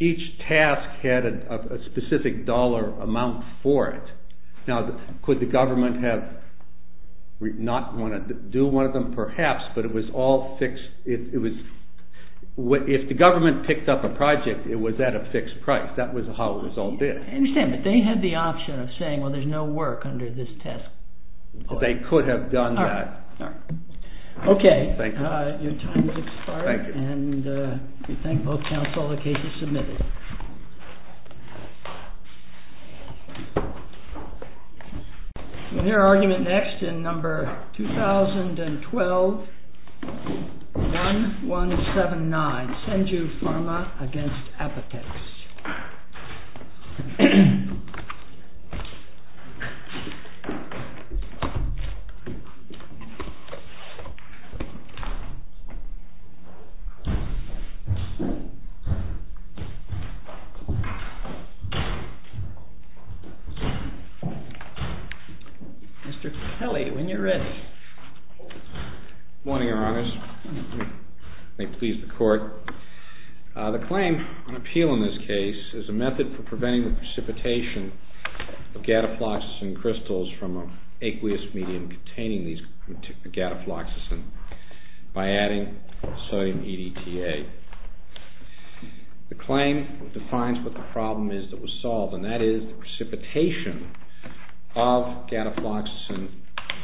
Each task had a specific dollar amount for it. Now, could the government have not wanted to do one of them? Perhaps, but it was all fixed. If the government picked up a project, it was at a fixed price. That was how it was all bid. I understand, but they had the option of saying, well, there's no work under this task. They could have done that. Okay. Your time has expired. We thank both counsel. The case is submitted. Your argument next in number 2012-1179, Senju Pharma v. Apotex. Mr. Kelly, when you're ready. Good morning, Your Honors. May it please the Court. The claim on appeal in this case is a method for preventing the precipitation of gatafloxacin crystals from an aqueous medium containing these gatafloxacin by adding sodium EDTA. The claim defines what the problem is that was solved, and that is the precipitation of gatafloxacin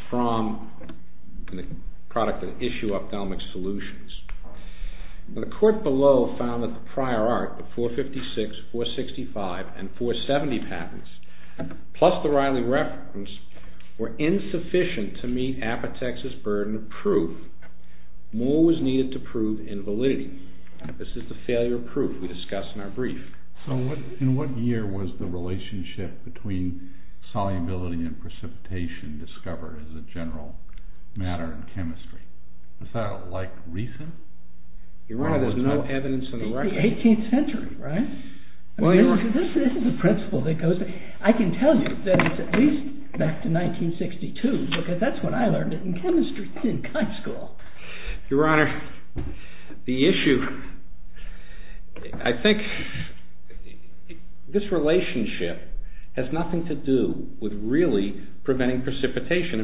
from the product of the issue of ophthalmic solutions. The court below found that the prior art, the 456, 465, and 470 patents, plus the Riley reference, were insufficient to meet Apotex's burden of proof. More was needed to prove invalidity. This is the failure of proof we discussed in our brief. So in what year was the relationship between solubility and precipitation discovered as a general matter in chemistry? Was that like recent? Your Honor, there's no evidence in the record. The 18th century, right? This is a principle that goes back. I can tell you that it's at least back to 1962, because that's when I learned it in chemistry in kind school. Your Honor, the issue, I think this relationship has nothing to do with really preventing precipitation.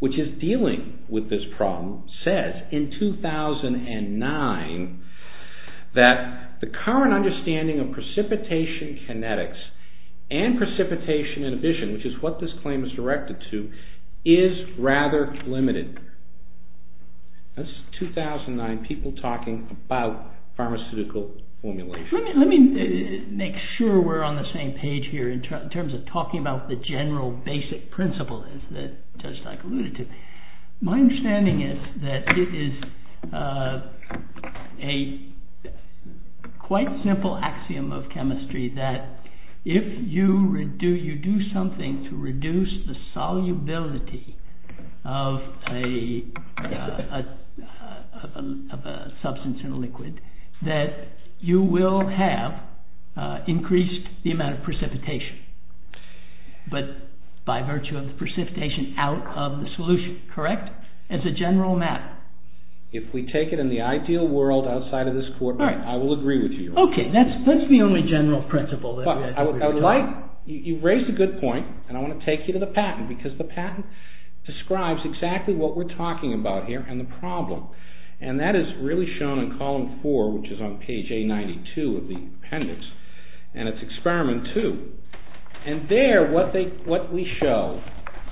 which is dealing with this problem, says in 2009 that the current understanding of precipitation kinetics and precipitation inhibition, which is what this claim is directed to, is rather limited. That's 2009, people talking about pharmaceutical formulation. Let me make sure we're on the same page here in terms of talking about the general basic principle, as the judge alluded to. My understanding is that it is a quite simple axiom of chemistry that if you do something to reduce the solubility of a substance in a liquid, that you will have increased the amount of precipitation. But by virtue of precipitation out of the solution, correct? As a general matter. If we take it in the ideal world outside of this courtroom, I will agree with you. Okay, that's the only general principle. You raised a good point, and I want to take you to the patent, because the patent describes exactly what we're talking about here and the problem. And that is really shown in column four, which is on page A92 of the appendix. And it's experiment two. And there, what we show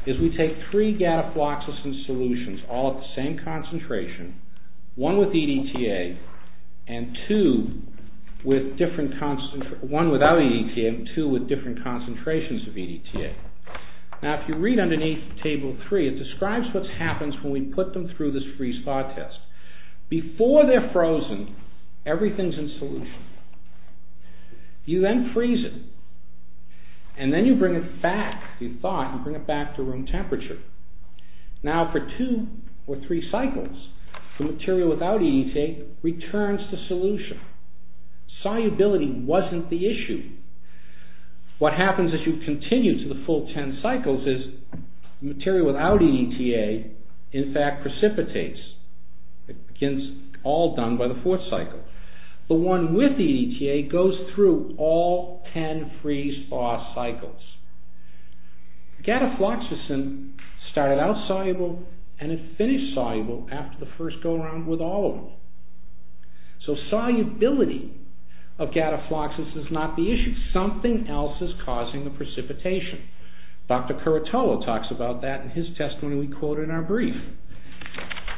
is we take three gatafloxacin solutions, all at the same concentration, one with EDTA, and two with different concentrations of EDTA. Now, if you read underneath table three, it describes what happens when we put them through this freeze-thaw test. Before they're frozen, everything's in solution. You then freeze it, and then you bring it back, you thaw it, and bring it back to room temperature. Now, for two or three cycles, the material without EDTA returns to solution. Solubility wasn't the issue. What happens as you continue to the full ten cycles is the material without EDTA, in fact, precipitates. It begins all done by the fourth cycle. The one with EDTA goes through all ten freeze-thaw cycles. Gatafloxacin started out soluble and it finished soluble after the first go-around with all of them. So, solubility of gatafloxacin is not the issue. Something else is causing the precipitation. Dr. Curatolo talks about that in his testimony we quote in our brief,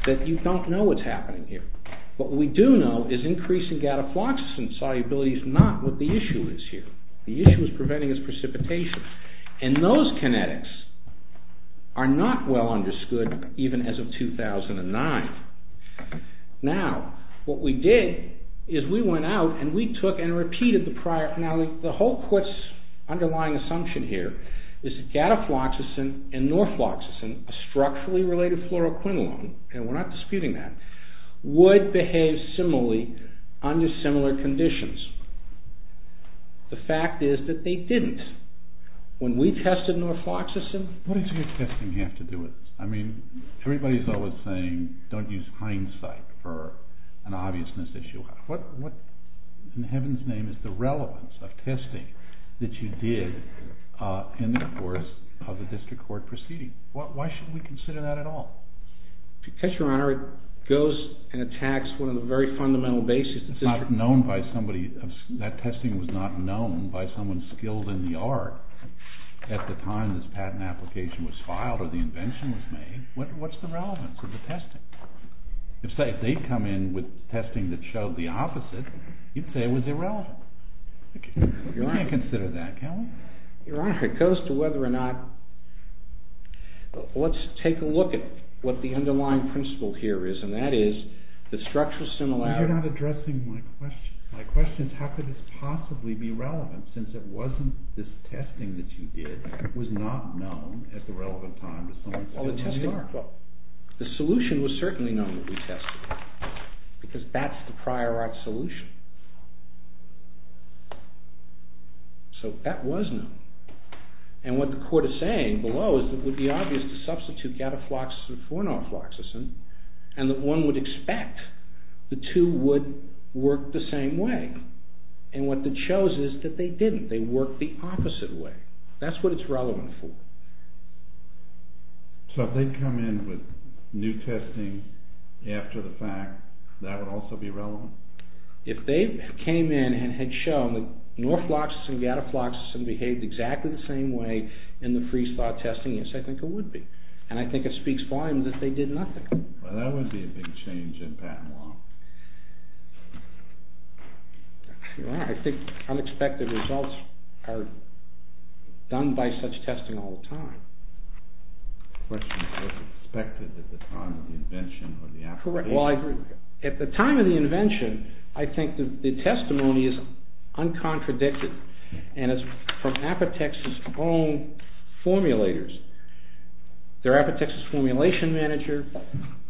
that you don't know what's happening here. What we do know is increasing gatafloxacin solubility is not what the issue is here. The issue is preventing its precipitation. And those kinetics are not well understood even as of 2009. Now, what we did is we went out and we took and repeated the prior... Now, the whole court's underlying assumption here is that gatafloxacin and norfloxacin, a structurally related fluoroquinolone, and we're not disputing that, would behave similarly under similar conditions. The fact is that they didn't. When we tested norfloxacin... What does your testing have to do with this? I mean, everybody's always saying don't use hindsight for an obviousness issue. What in heaven's name is the relevance of testing that you did in the course of a district court proceeding? Why should we consider that at all? Because, Your Honor, it goes and attacks one of the very fundamental bases... It's not known by somebody. That testing was not known by someone skilled in the art at the time this patent application was filed or the invention was made. What's the relevance of the testing? If they come in with testing that showed the opposite, you'd say it was irrelevant. We can't consider that, can we? Your Honor, it goes to whether or not... Let's take a look at what the underlying principle here is, and that is the structural similarity... You're not addressing my question. My question is how could this possibly be relevant since it wasn't this testing that you did was not known at the relevant time to someone skilled in the art. The solution was certainly known that we tested, because that's the prior art solution. So that was known. And what the court is saying below is that it would be obvious to substitute gatafloxacin for fornofloxacin and that one would expect the two would work the same way. And what it shows is that they didn't. They worked the opposite way. That's what it's relevant for. So if they come in with new testing after the fact, that would also be relevant? If they came in and had shown that norfloxacin and gatafloxacin behaved exactly the same way in the freeze-thaw testing, yes, I think it would be. And I think it speaks volumes that they did nothing. Well, that would be a big change in patent law. Your Honor, I think unexpected results are done by such testing all the time. The question is if it's expected at the time of the invention or the application. Well, I agree. At the time of the invention, I think the testimony is uncontradicted, and it's from Apotex's own formulators. They're Apotex's formulation manager.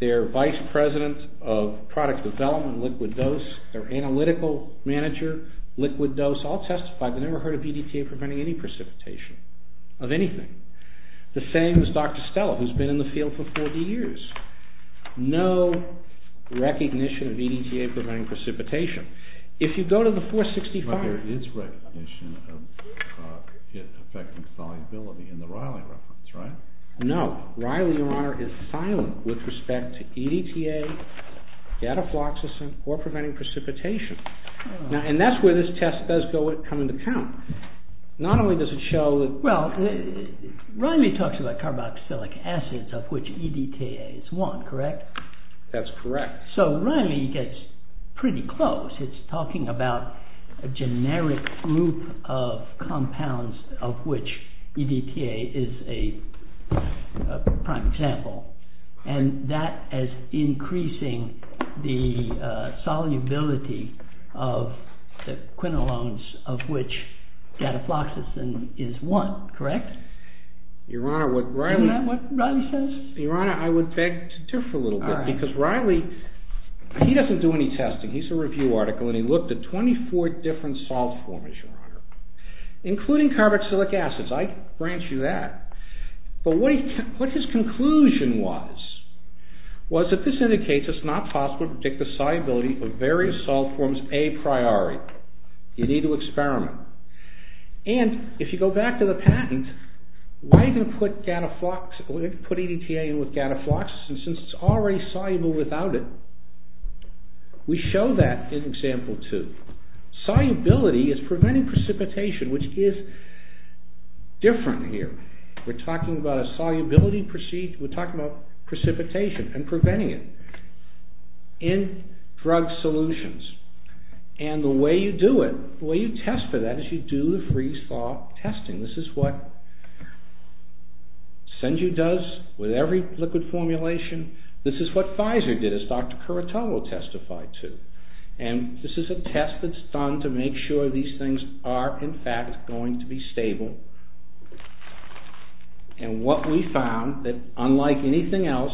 They're vice president of product development, liquid dose. They're analytical manager, liquid dose. I'll testify. I've never heard of BDTA preventing any precipitation of anything. The same as Dr. Stella, who's been in the field for 40 years. No recognition of BDTA preventing precipitation. If you go to the 465... But there is recognition of it affecting solubility in the Riley reference, right? No. Riley, Your Honor, is silent with respect to EDTA, gatafloxacin, or preventing precipitation. And that's where this test does come into account. Not only does it show... Well, Riley talks about carboxylic acids of which EDTA is one, correct? That's correct. So Riley gets pretty close. It's talking about a generic group of compounds of which EDTA is a prime example. And that is increasing the solubility of the quinolones of which gatafloxacin is one, correct? Your Honor, what Riley... Isn't that what Riley says? Your Honor, I would beg to differ a little bit. Because Riley, he doesn't do any testing. He's a review article, and he looked at 24 different salt formers, Your Honor. Including carboxylic acids. I grant you that. But what his conclusion was... Was that this indicates it's not possible to predict the solubility of various salt forms a priori. You need to experiment. And, if you go back to the patent, why do you put EDTA in with gatafloxacin since it's already soluble without it? We show that in Example 2. Solubility is preventing precipitation, which is different here. We're talking about precipitation and preventing it in drug solutions. And the way you do it, the way you test for that, is you do the freeze-thaw testing. This is what Senju does with every liquid formulation. This is what Pfizer did, as Dr. Curatow will testify to. And this is a test that's done to make sure these things are, in fact, going to be stable. And what we found, that unlike anything else,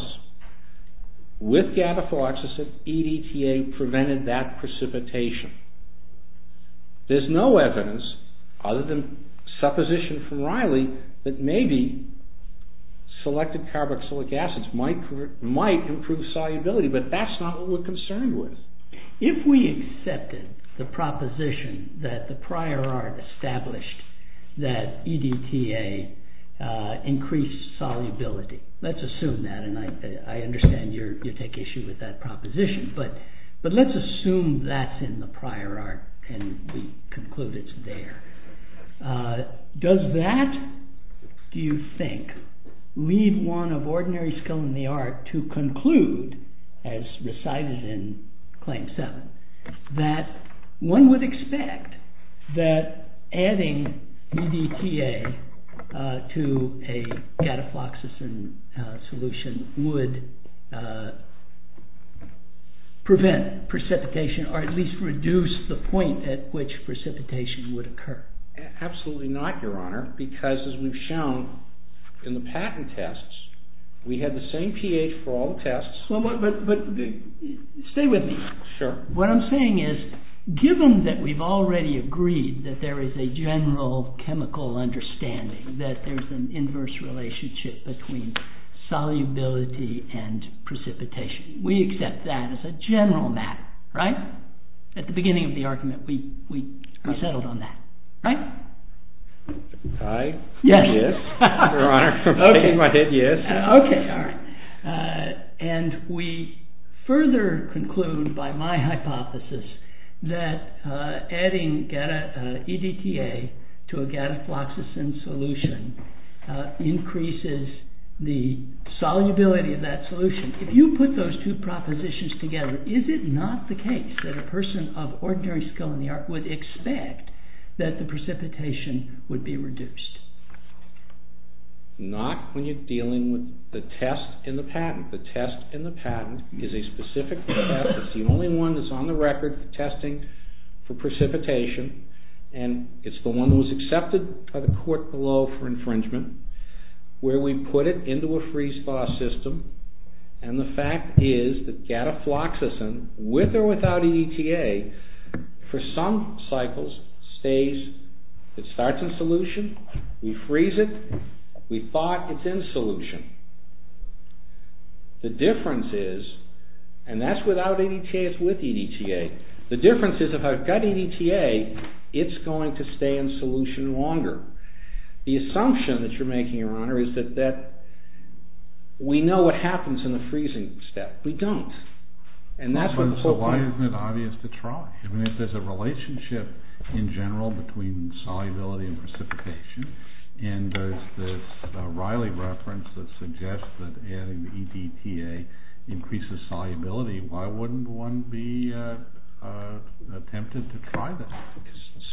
with gatafloxacin, EDTA prevented that precipitation. There's no evidence, other than supposition from Riley, that maybe selected carboxylic acids might improve solubility. But that's not what we're concerned with. If we accepted the proposition that the prior art established that EDTA increased solubility. Let's assume that, and I understand you take issue with that proposition. But let's assume that's in the prior art, and we conclude it's there. Does that, do you think, leave one of ordinary skill in the art to conclude, as recited in Claim 7, that one would expect that adding EDTA to a gatafloxacin solution would prevent precipitation, or at least reduce the point at which precipitation would occur? Absolutely not, your honor. Because as we've shown in the patent tests, we had the same pH for all the tests. But stay with me. Sure. What I'm saying is, given that we've already agreed that there is a general chemical understanding, that there's an inverse relationship between solubility and precipitation. We accept that as a general matter. Right? At the beginning of the argument, we settled on that. Right? Aye. Yes. Your honor. Okay. All right. And we further conclude by my hypothesis that adding EDTA to a gatafloxacin solution increases the solubility of that solution. If you put those two propositions together, is it not the case that a person of ordinary skill in the art would expect that the precipitation would be reduced? Not when you're dealing with the test in the patent. The test in the patent is a specific test. It's the only one that's on the record for testing for precipitation. And it's the one that was accepted by the court below for infringement, where we put it into a freeze-thaw system. And the fact is that gatafloxacin, with or without EDTA, for some cycles, it starts in solution. We freeze it. We thought it's in solution. The difference is, and that's without EDTA, it's with EDTA. The difference is if I've got EDTA, it's going to stay in solution longer. The assumption that you're making, your honor, is that we know what happens in the freezing step. We don't. So why isn't it obvious to try? I mean, if there's a relationship in general between solubility and precipitation, and there's this Riley reference that suggests that adding EDTA increases solubility, why wouldn't one be tempted to try that?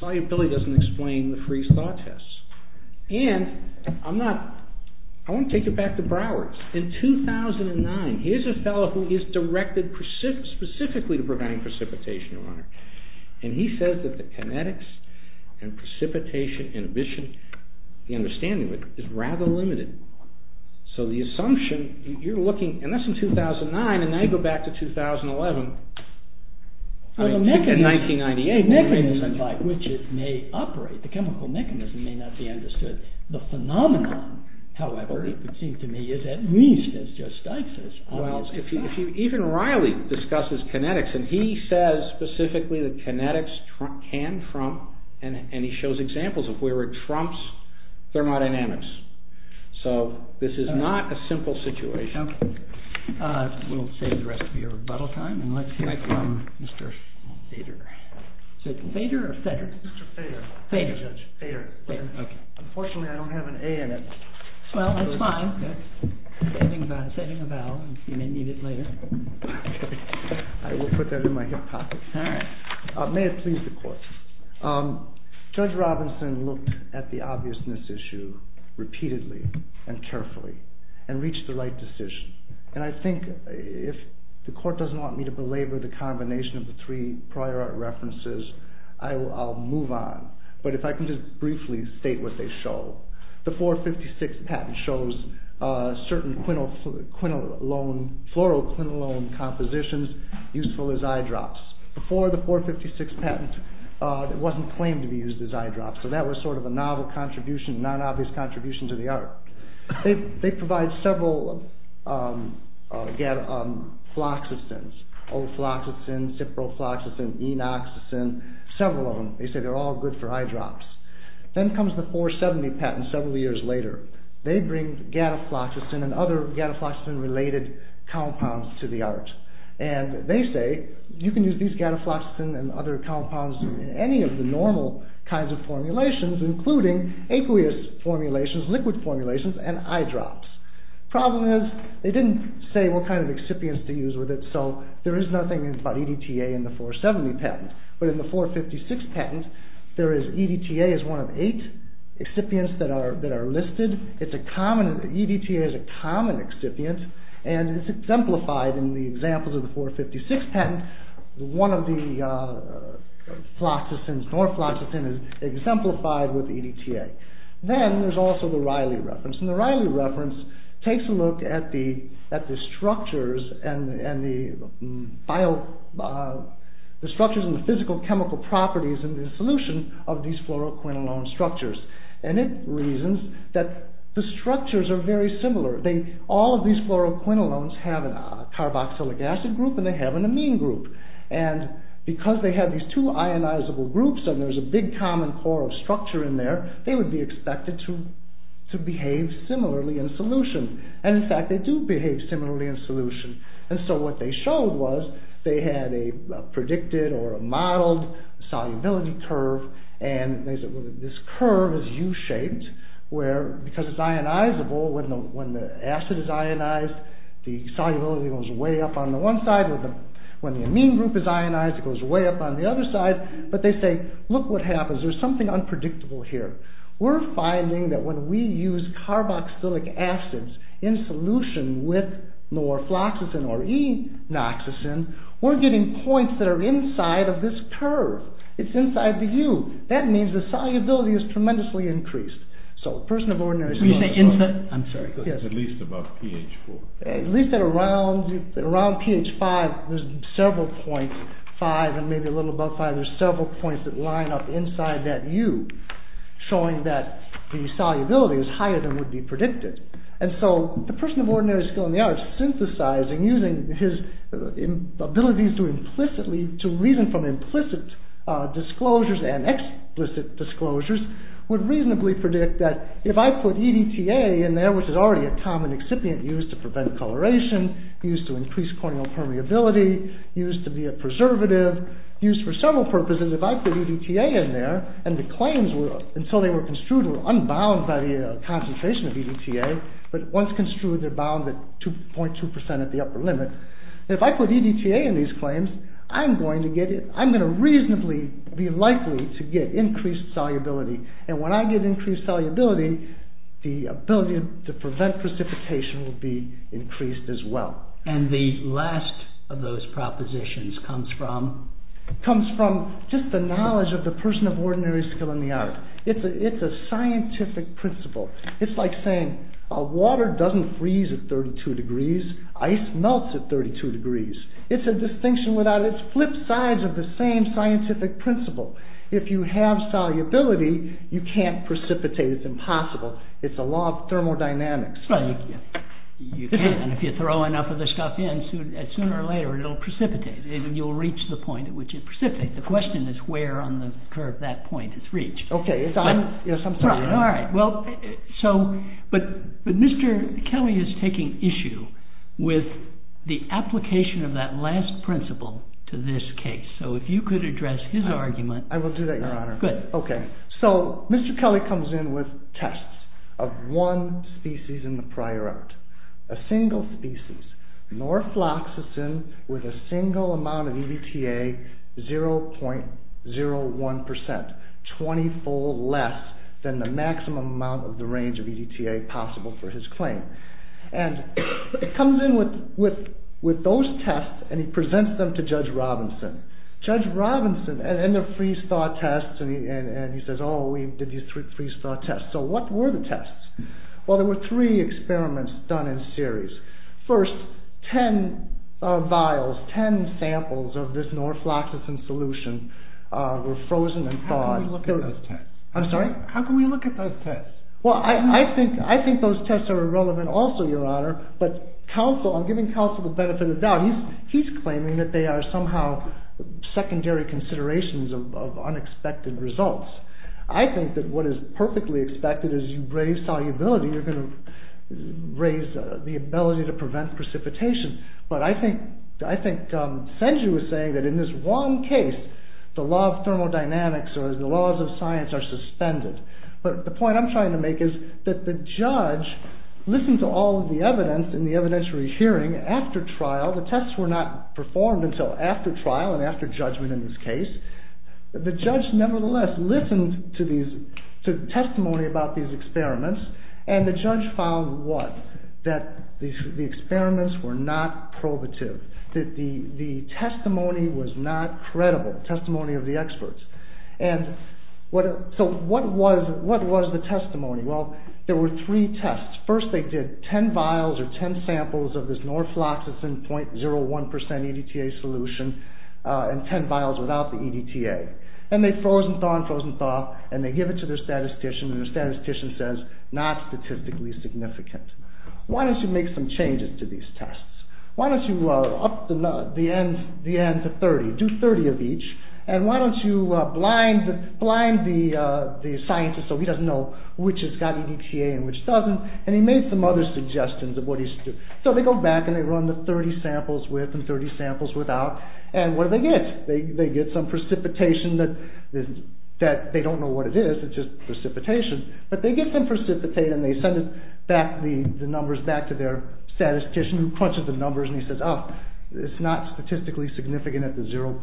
Solubility doesn't explain the freeze-thaw test. And I want to take it back to Broward. In 2009, here's a fellow who is directed specifically to preventing precipitation, your honor. And he says that the kinetics and precipitation inhibition, the understanding of it, is rather limited. So the assumption, you're looking, and that's in 2009, and now you go back to 2011. In 1998, the mechanism by which it may operate, the chemical mechanism may not be understood. The phenomenon, however, it would seem to me, is at least as justicious. Well, if you even Riley discusses kinetics, and he says specifically that kinetics can trump, and he shows examples of where it trumps thermodynamics. So this is not a simple situation. Okay. We'll save the rest of your rebuttal time, and let's hear from Mr. Thader. Is it Thader or Thedrick? Mr. Thader. Thader. Sorry, Judge, Thader. Unfortunately, I don't have an A in it. Well, that's fine. I'm sending a vowel. You may need it later. Okay. I will put that in my hip pocket. May it please the court. Judge Robinson looked at the obviousness issue repeatedly and carefully and reached the right decision. And I think if the court doesn't want me to belabor the combination of the three prior references, I'll move on. But if I can just briefly state what they show. The 456 patent shows certain chloroquinolone compositions useful as eye drops. Before the 456 patent, it wasn't claimed to be used as eye drops, so that was sort of a novel contribution, non-obvious contribution to the art. They provide several, again, floxacins, ofloxacin, ciprofloxacin, enoxacin, several of them. They say they're all good for eye drops. Then comes the 470 patent several years later. They bring gatafloxacin and other gatafloxacin-related compounds to the art. And they say you can use these gatafloxacin and other compounds in any of the normal kinds of formulations, including aqueous formulations, liquid formulations, and eye drops. Problem is, they didn't say what kind of excipients to use with it, so there is nothing about EDTA in the 470 patent. But in the 456 patent, EDTA is one of eight excipients that are listed. EDTA is a common excipient, and it's exemplified in the examples of the 456 patent. One of the floxacins, norfloxacin, is exemplified with EDTA. Then there's also the Riley reference. The Riley reference takes a look at the structures and the physical chemical properties and the solution of these fluoroquinolone structures. And it reasons that the structures are very similar. All of these fluoroquinolones have a carboxylic acid group and they have an amine group. And because they have these two ionizable groups and there's a big common core of structure in there, they would be expected to behave similarly in solution. And in fact, they do behave similarly in solution. And so what they showed was they had a predicted or a modeled solubility curve, and this curve is U-shaped because it's ionizable. When the acid is ionized, the solubility goes way up on the one side. When the amine group is ionized, it goes way up on the other side. But they say, look what happens. There's something unpredictable here. We're finding that when we use carboxylic acids in solution with norfloxacin or enoxacin, we're getting points that are inside of this curve. It's inside the U. That means the solubility is tremendously increased. So a person of ordinary... Can you say inside? I'm sorry. It's at least above pH 4. At least at around pH 5, there's several points, 5 and maybe a little above 5, there's several points that line up inside that U, showing that the solubility is higher than would be predicted. And so the person of ordinary skill in the arts, synthesizing using his abilities to implicitly, to reason from implicit disclosures and explicit disclosures, would reasonably predict that if I put EDTA in there, which is already a common excipient used to prevent coloration, used to increase corneal permeability, used to be a preservative, used for several purposes. If I put EDTA in there, and the claims were, until they were construed, were unbound by the concentration of EDTA. But once construed, they're bound at 2.2% at the upper limit. If I put EDTA in these claims, I'm going to get it. I'm going to reasonably be likely to get increased solubility. And when I get increased solubility, the ability to prevent precipitation will be increased as well. And the last of those propositions comes from, comes from just the knowledge of the person of ordinary skill in the arts. It's a scientific principle. It's like saying, water doesn't freeze at 32 degrees, ice melts at 32 degrees. It's a distinction without, it's flip sides of the same scientific principle. If you have solubility, you can't precipitate. It's impossible. It's a law of thermodynamics. Right. You can. And if you throw enough of the stuff in, sooner or later, it'll precipitate. You'll reach the point at which it precipitates. The question is where on the curve that point is reached. Okay. Yes, I'm sorry. All right. Well, so, but Mr. Kelly is taking issue with the application of that last principle to this case. So if you could address his argument. I will do that, Your Honor. Good. Okay. So Mr. Kelly comes in with tests of one species in the prior art, a single species, norfloxacin with a single amount of EDTA, 0.01%, 20 fold less than the maximum amount of the range of EDTA possible for his claim. And it comes in with those tests and he presents them to Judge Robinson. Judge Robinson. And they're freeze-thawed tests. And he says, oh, we did these freeze-thawed tests. So what were the tests? Well, there were three experiments done in series. First, 10 vials, 10 samples of this norfloxacin solution were frozen and thawed. How can we look at those tests? I'm sorry? How can we look at those tests? Well, I think those tests are irrelevant also, Your Honor. But counsel, I'm giving counsel the benefit of the doubt. He's claiming that they are somehow secondary considerations of unexpected results. I think that what is perfectly expected is you raise solubility, you're going to raise the ability to prevent precipitation. But I think, I think Senju was saying that in this one case, the law of thermodynamics or the laws of science are suspended. But the point I'm trying to make is that the judge, listen to all of the evidence in the evidentiary hearing after trial, the tests were not performed until after trial and after judgment in this case. The judge, nevertheless, listened to these, to testimony about these experiments. And the judge found what? That the experiments were not probative. That the testimony was not credible, testimony of the experts. And what, so what was, what was the testimony? Well, there were three tests. First they did 10 vials or 10 samples of this norfloxacin 0.01% EDTA solution and 10 vials without the EDTA. And they froze and thaw and froze and thaw and they give it to their statistician and their statistician says, not statistically significant. Why don't you make some changes to these tests? Why don't you up the, the end, the end to 30, do 30 of each. And why don't you blind, blind the, the scientist so he doesn't know which has got EDTA and which doesn't. And he made some other suggestions of what he should do. So they go back and they run the 30 samples with and 30 samples without. And what do they get? They, they get some precipitation that, that they don't know what it is. It's just precipitation. But they get some precipitation and they send it back, the numbers back to their statistician who crunches the numbers and he says, oh, it's not statistically significant at the 0.5%,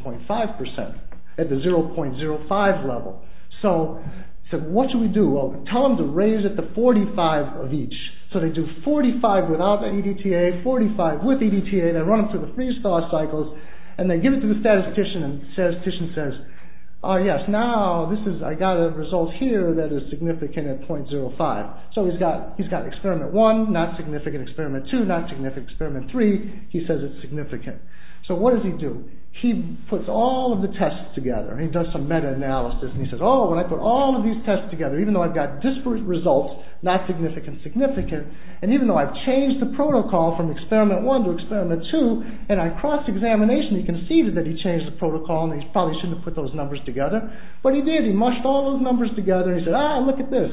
at the 0.05 level. So, so what should we do? Well, tell them to raise it to 45 of each. So they do 45 without the EDTA, 45 with EDTA. They run it through the freeze-thaw cycles and they give it to the statistician and the statistician says, oh yes, now this is, I got a result here that is significant at 0.05. So he's got, he's got experiment one, not significant, experiment two, not significant, experiment three, he says it's significant. So what does he do? He puts all of the tests together. He does some meta-analysis and he says, oh, when I put all of these tests together, even though I've got disparate results, not significant, significant, and even though I've changed the protocol from experiment one to experiment two, and I cross-examination, he conceded that he changed the protocol and he probably shouldn't have put those numbers together, but he did. He mushed all those numbers together. He said, ah, look at this.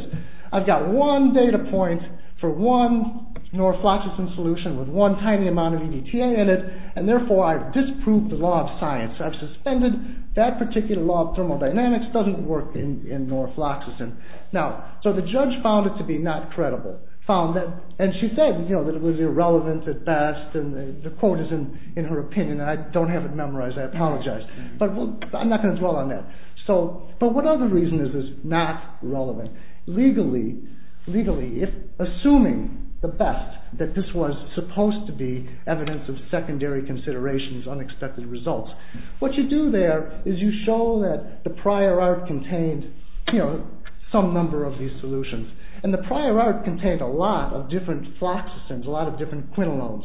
I've got one data point for one norfloxacin solution with one tiny amount of EDTA in it, and therefore I've disproved the law of science. I've suspended that particular law of thermodynamics. Science doesn't work in norfloxacin. Now, so the judge found it to be not credible, found that, and she said, you know, that it was irrelevant at best, and the quote is in her opinion. I don't have it memorized. I apologize, but I'm not going to dwell on that. So, but what other reason is this not relevant? Legally, legally, if assuming the best, that this was supposed to be evidence of secondary considerations, unexpected results, what you do there is you show that the prior art contained, you know, some number of these solutions, and the prior art contained a lot of different floxacins, a lot of different quinolones,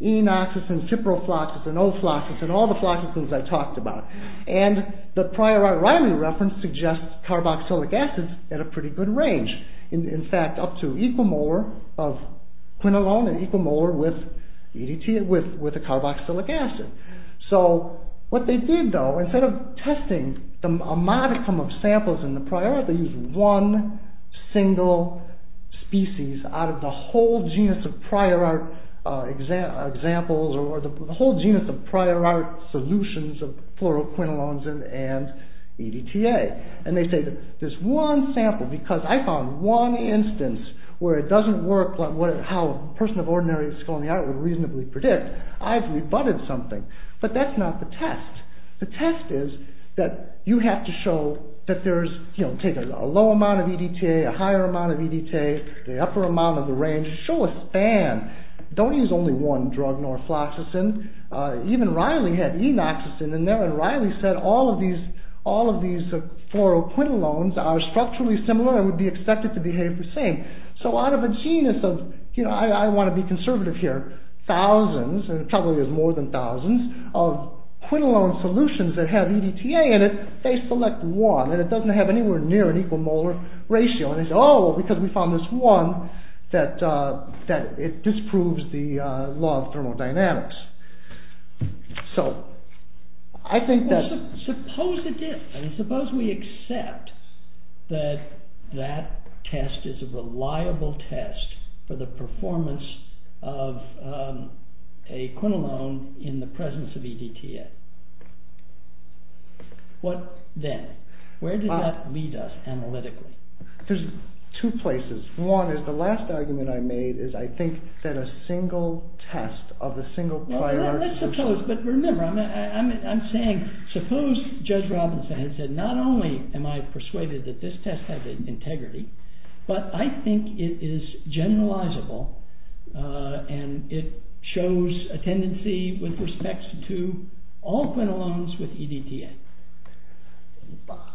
enoxacin, kiprofloxacin, ofloxacin, all the floxacins I talked about, and the prior art reference suggests carboxylic acids at a pretty good range. In fact, up to equimolar of quinolone and equimolar with EDTA, with a carboxylic acid. So, what they did, though, instead of testing a modicum of samples in the prior art, they used one single species out of the whole genus of prior art examples, or the whole genus of prior art solutions of fluoroquinolones and EDTA. And they say, this one sample, because I found one instance where it doesn't work, how a person of ordinary skill in the art would reasonably predict, I've rebutted something. But that's not the test. The test is that you have to show that there's, you know, take a low amount of EDTA, a higher amount of EDTA, the upper amount of the range, show a span. Don't use only one drug, nor floxacin. Even Riley had enoxacin in there, and Riley said all of these fluoroquinolones are structurally similar and would be expected to behave the same. So, out of a genus of, you know, I want to be conservative here, thousands, and probably there's more than thousands, of quinolone solutions that have EDTA in it, they select one, and it doesn't have anywhere near an equal molar ratio. And they say, oh, because we found this one, that it disproves the law of thermodynamics. So, I think that... Well, suppose it did. I mean, suppose we accept that that test is a reliable test for the performance of a EDTA. What then? Where does that lead us analytically? There's two places. One is the last argument I made is I think that a single test of a single prior... Let's suppose, but remember, I'm saying, suppose Judge Robinson had said, not only am I persuaded that this test has integrity, but I think it is generalizable, and it shows a tendency with respect to all quinolones with EDTA.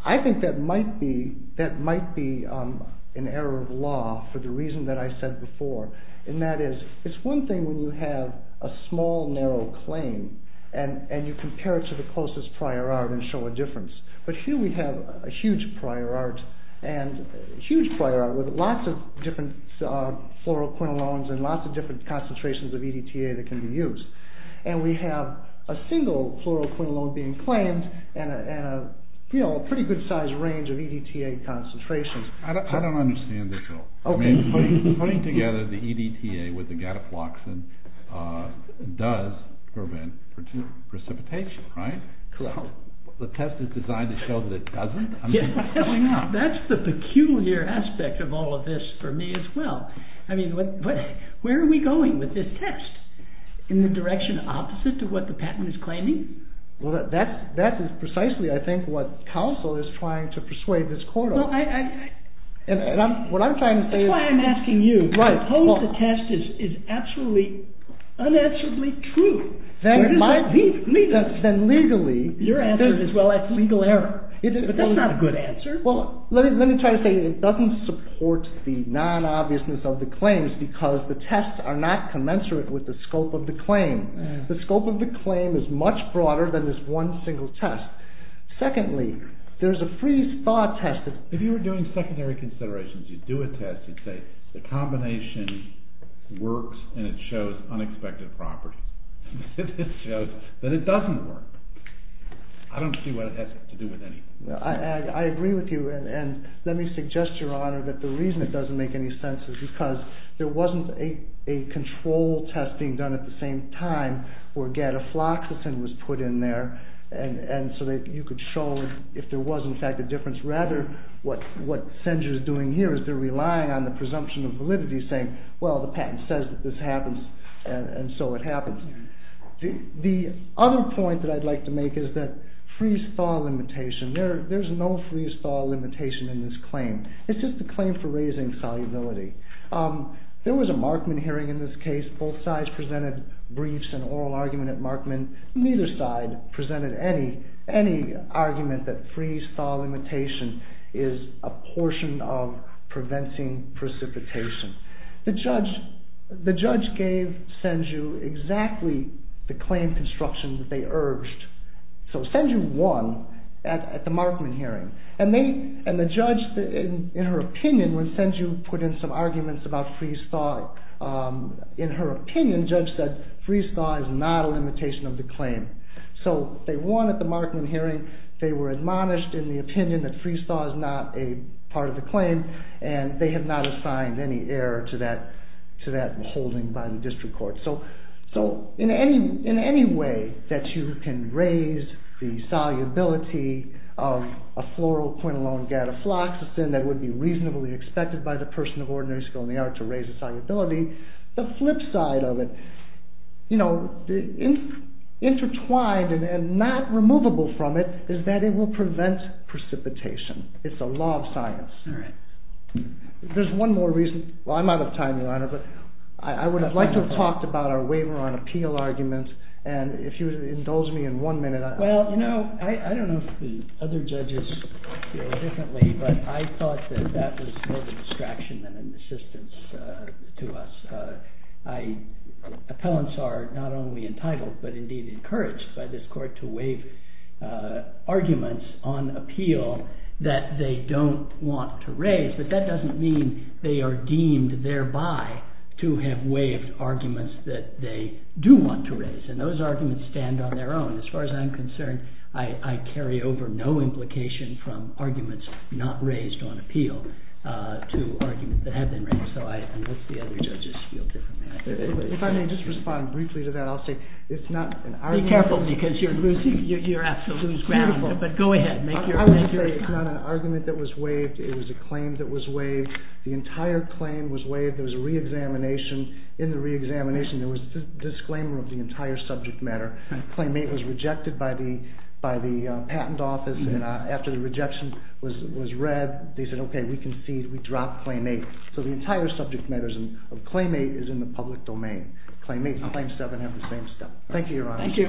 I think that might be an error of law for the reason that I said before, and that is, it's one thing when you have a small, narrow claim, and you compare it to the closest prior art and show a difference. But here we have a huge prior art, and a huge prior art with lots of different fluoroquinolones and lots of different concentrations of EDTA that can be used. And we have a single fluoroquinolone being claimed, and a pretty good-sized range of EDTA concentrations. I don't understand this at all. I mean, putting together the EDTA with the gataploxin does prevent precipitation, Correct. The test is designed to show that it doesn't? That's the peculiar aspect of all of this for me as well. I mean, where are we going with this test? In the direction opposite to what the patent is claiming? Well, that is precisely, I think, what counsel is trying to persuade this court of. That's why I'm asking you. unanswerably true. Then legally, Your answer is, well, that's legal error. That's not a good answer. Well, let me try to say, it doesn't support the non-obviousness of the claims, because the tests are not commensurate with the scope of the claim. The scope of the claim is much broader than this one single test. Secondly, there's a freeze-thaw test. If you were doing secondary considerations, you'd do a test, you'd say, the combination works, and it shows unexpected properties. It shows that it doesn't work. I don't see what it has to do with anything. I agree with you, and let me suggest, Your Honor, that the reason it doesn't make any sense is because there wasn't a control test being done at the same time where gadafloxacin was put in there, and so that you could show if there was, in fact, a difference. Rather, what Senger's doing here is they're relying on the presumption of validity, saying, well, the patent says that this happens, and so it happens. The other point that I'd like to make is that freeze-thaw limitation, there's no freeze-thaw limitation in this claim. It's just a claim for raising solubility. There was a Markman hearing in this case. Both sides presented briefs and oral argument at Markman. Neither side presented any argument that freeze-thaw limitation is a portion of preventing precipitation. The judge gave Senger exactly the claim construction that they urged. So Senger won at the Markman hearing, and the judge, in her opinion, when Senger put in some arguments about freeze-thaw, in her opinion, Judge said freeze-thaw is not a limitation of the claim. So they won at the Markman hearing. They were admonished in the opinion that freeze-thaw is not a part of the claim, and they have not assigned any error to that holding by the district court. So in any way that you can raise the solubility of a floral, point alone, gadafloxacin that would be reasonably expected by the person of ordinary skill in the art to raise the solubility, the flip side of it, intertwined and not removable from it, is that it will prevent precipitation. It's a law of science. There's one more reason. Well, I'm out of time, Your Honor, but I would have liked to have talked about our waiver on appeal arguments, and if you would indulge me in one minute. Well, you know, I don't know if the other judges feel differently, but I thought that that was more of a distraction than an assistance to us. Appellants are not only entitled but indeed encouraged by this court to waive arguments on appeal that they don't want to raise, but that doesn't mean they are deemed thereby to have waived arguments that they do want to raise, and those arguments stand on their own. As far as I'm concerned, I carry over no implication from arguments not raised on appeal to arguments that have been raised, so I hope the other judges feel differently. If I may just respond briefly to that, I'll say it's not an argument. Be careful because you're losing, you have to lose ground, but go ahead. I would say it's not an argument that was waived. It was a claim that was waived. The entire claim was waived. There was a re-examination. In the re-examination, there was a disclaimer of the entire subject matter. Claim 8 was rejected by the patent office, and after the rejection was read, they said, okay, we concede, we drop Claim 8, so the entire subject matter of Claim 8 is in the public domain. Claim 8 and Claim 7 have the same stuff. Thank you, Your Honor. Thank you.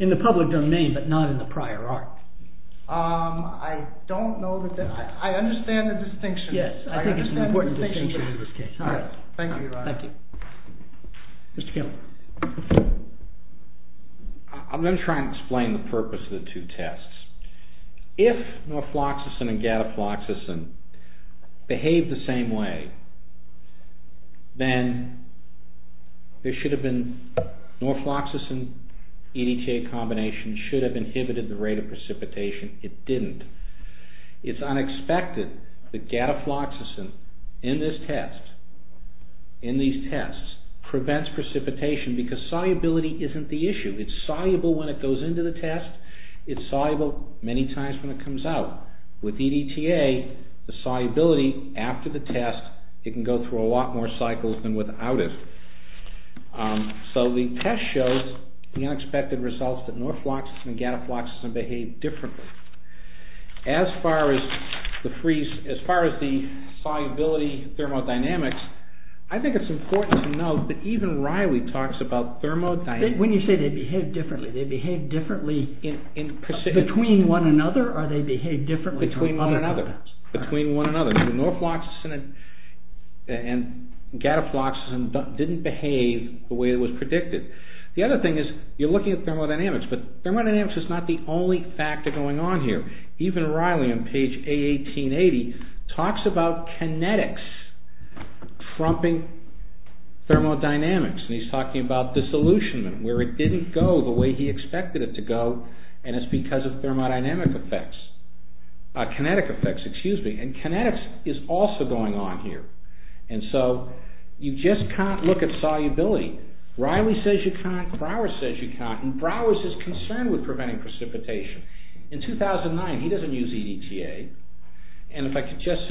In the public domain, but not in the prior art. I don't know the difference. I understand the distinction. Yes, I think it's an important distinction in this case. All right. Thank you, Your Honor. Thank you. Mr. Kellogg. I'm going to try and explain the purpose of the two tests. If norfloxacin and gadafloxacin behave the same way, then there should have been, norfloxacin EDTA combination should have inhibited the rate of precipitation. It didn't. It's unexpected that gadafloxacin in this test, in these tests, prevents precipitation because solubility isn't the issue. It's soluble when it goes into the test. It's soluble many times when it comes out. With EDTA, the solubility after the test, it can go through a lot more cycles than without it. So the test shows the unexpected results that norfloxacin and gadafloxacin behave differently. As far as the solubility thermodynamics, I think it's important to note that even Riley talks about thermodynamics. When you say they behave differently, they behave differently between one another or they behave differently between one another? Between one another. So norfloxacin and gadafloxacin didn't behave the way it was predicted. The other thing is, you're looking at thermodynamics, but thermodynamics is not the only factor going on here. Even Riley on page A1880 talks about kinetics trumping thermodynamics. And he's talking about disillusionment, where it didn't go the way he expected it to go and it's because of thermodynamic effects. Kinetic effects, excuse me. And kinetics is also going on here. And so you just can't look at solubility. Riley says you can't. Browers says you can't. And Browers is concerned with preventing precipitation. In 2009, he doesn't use EDTA. And if I could just say...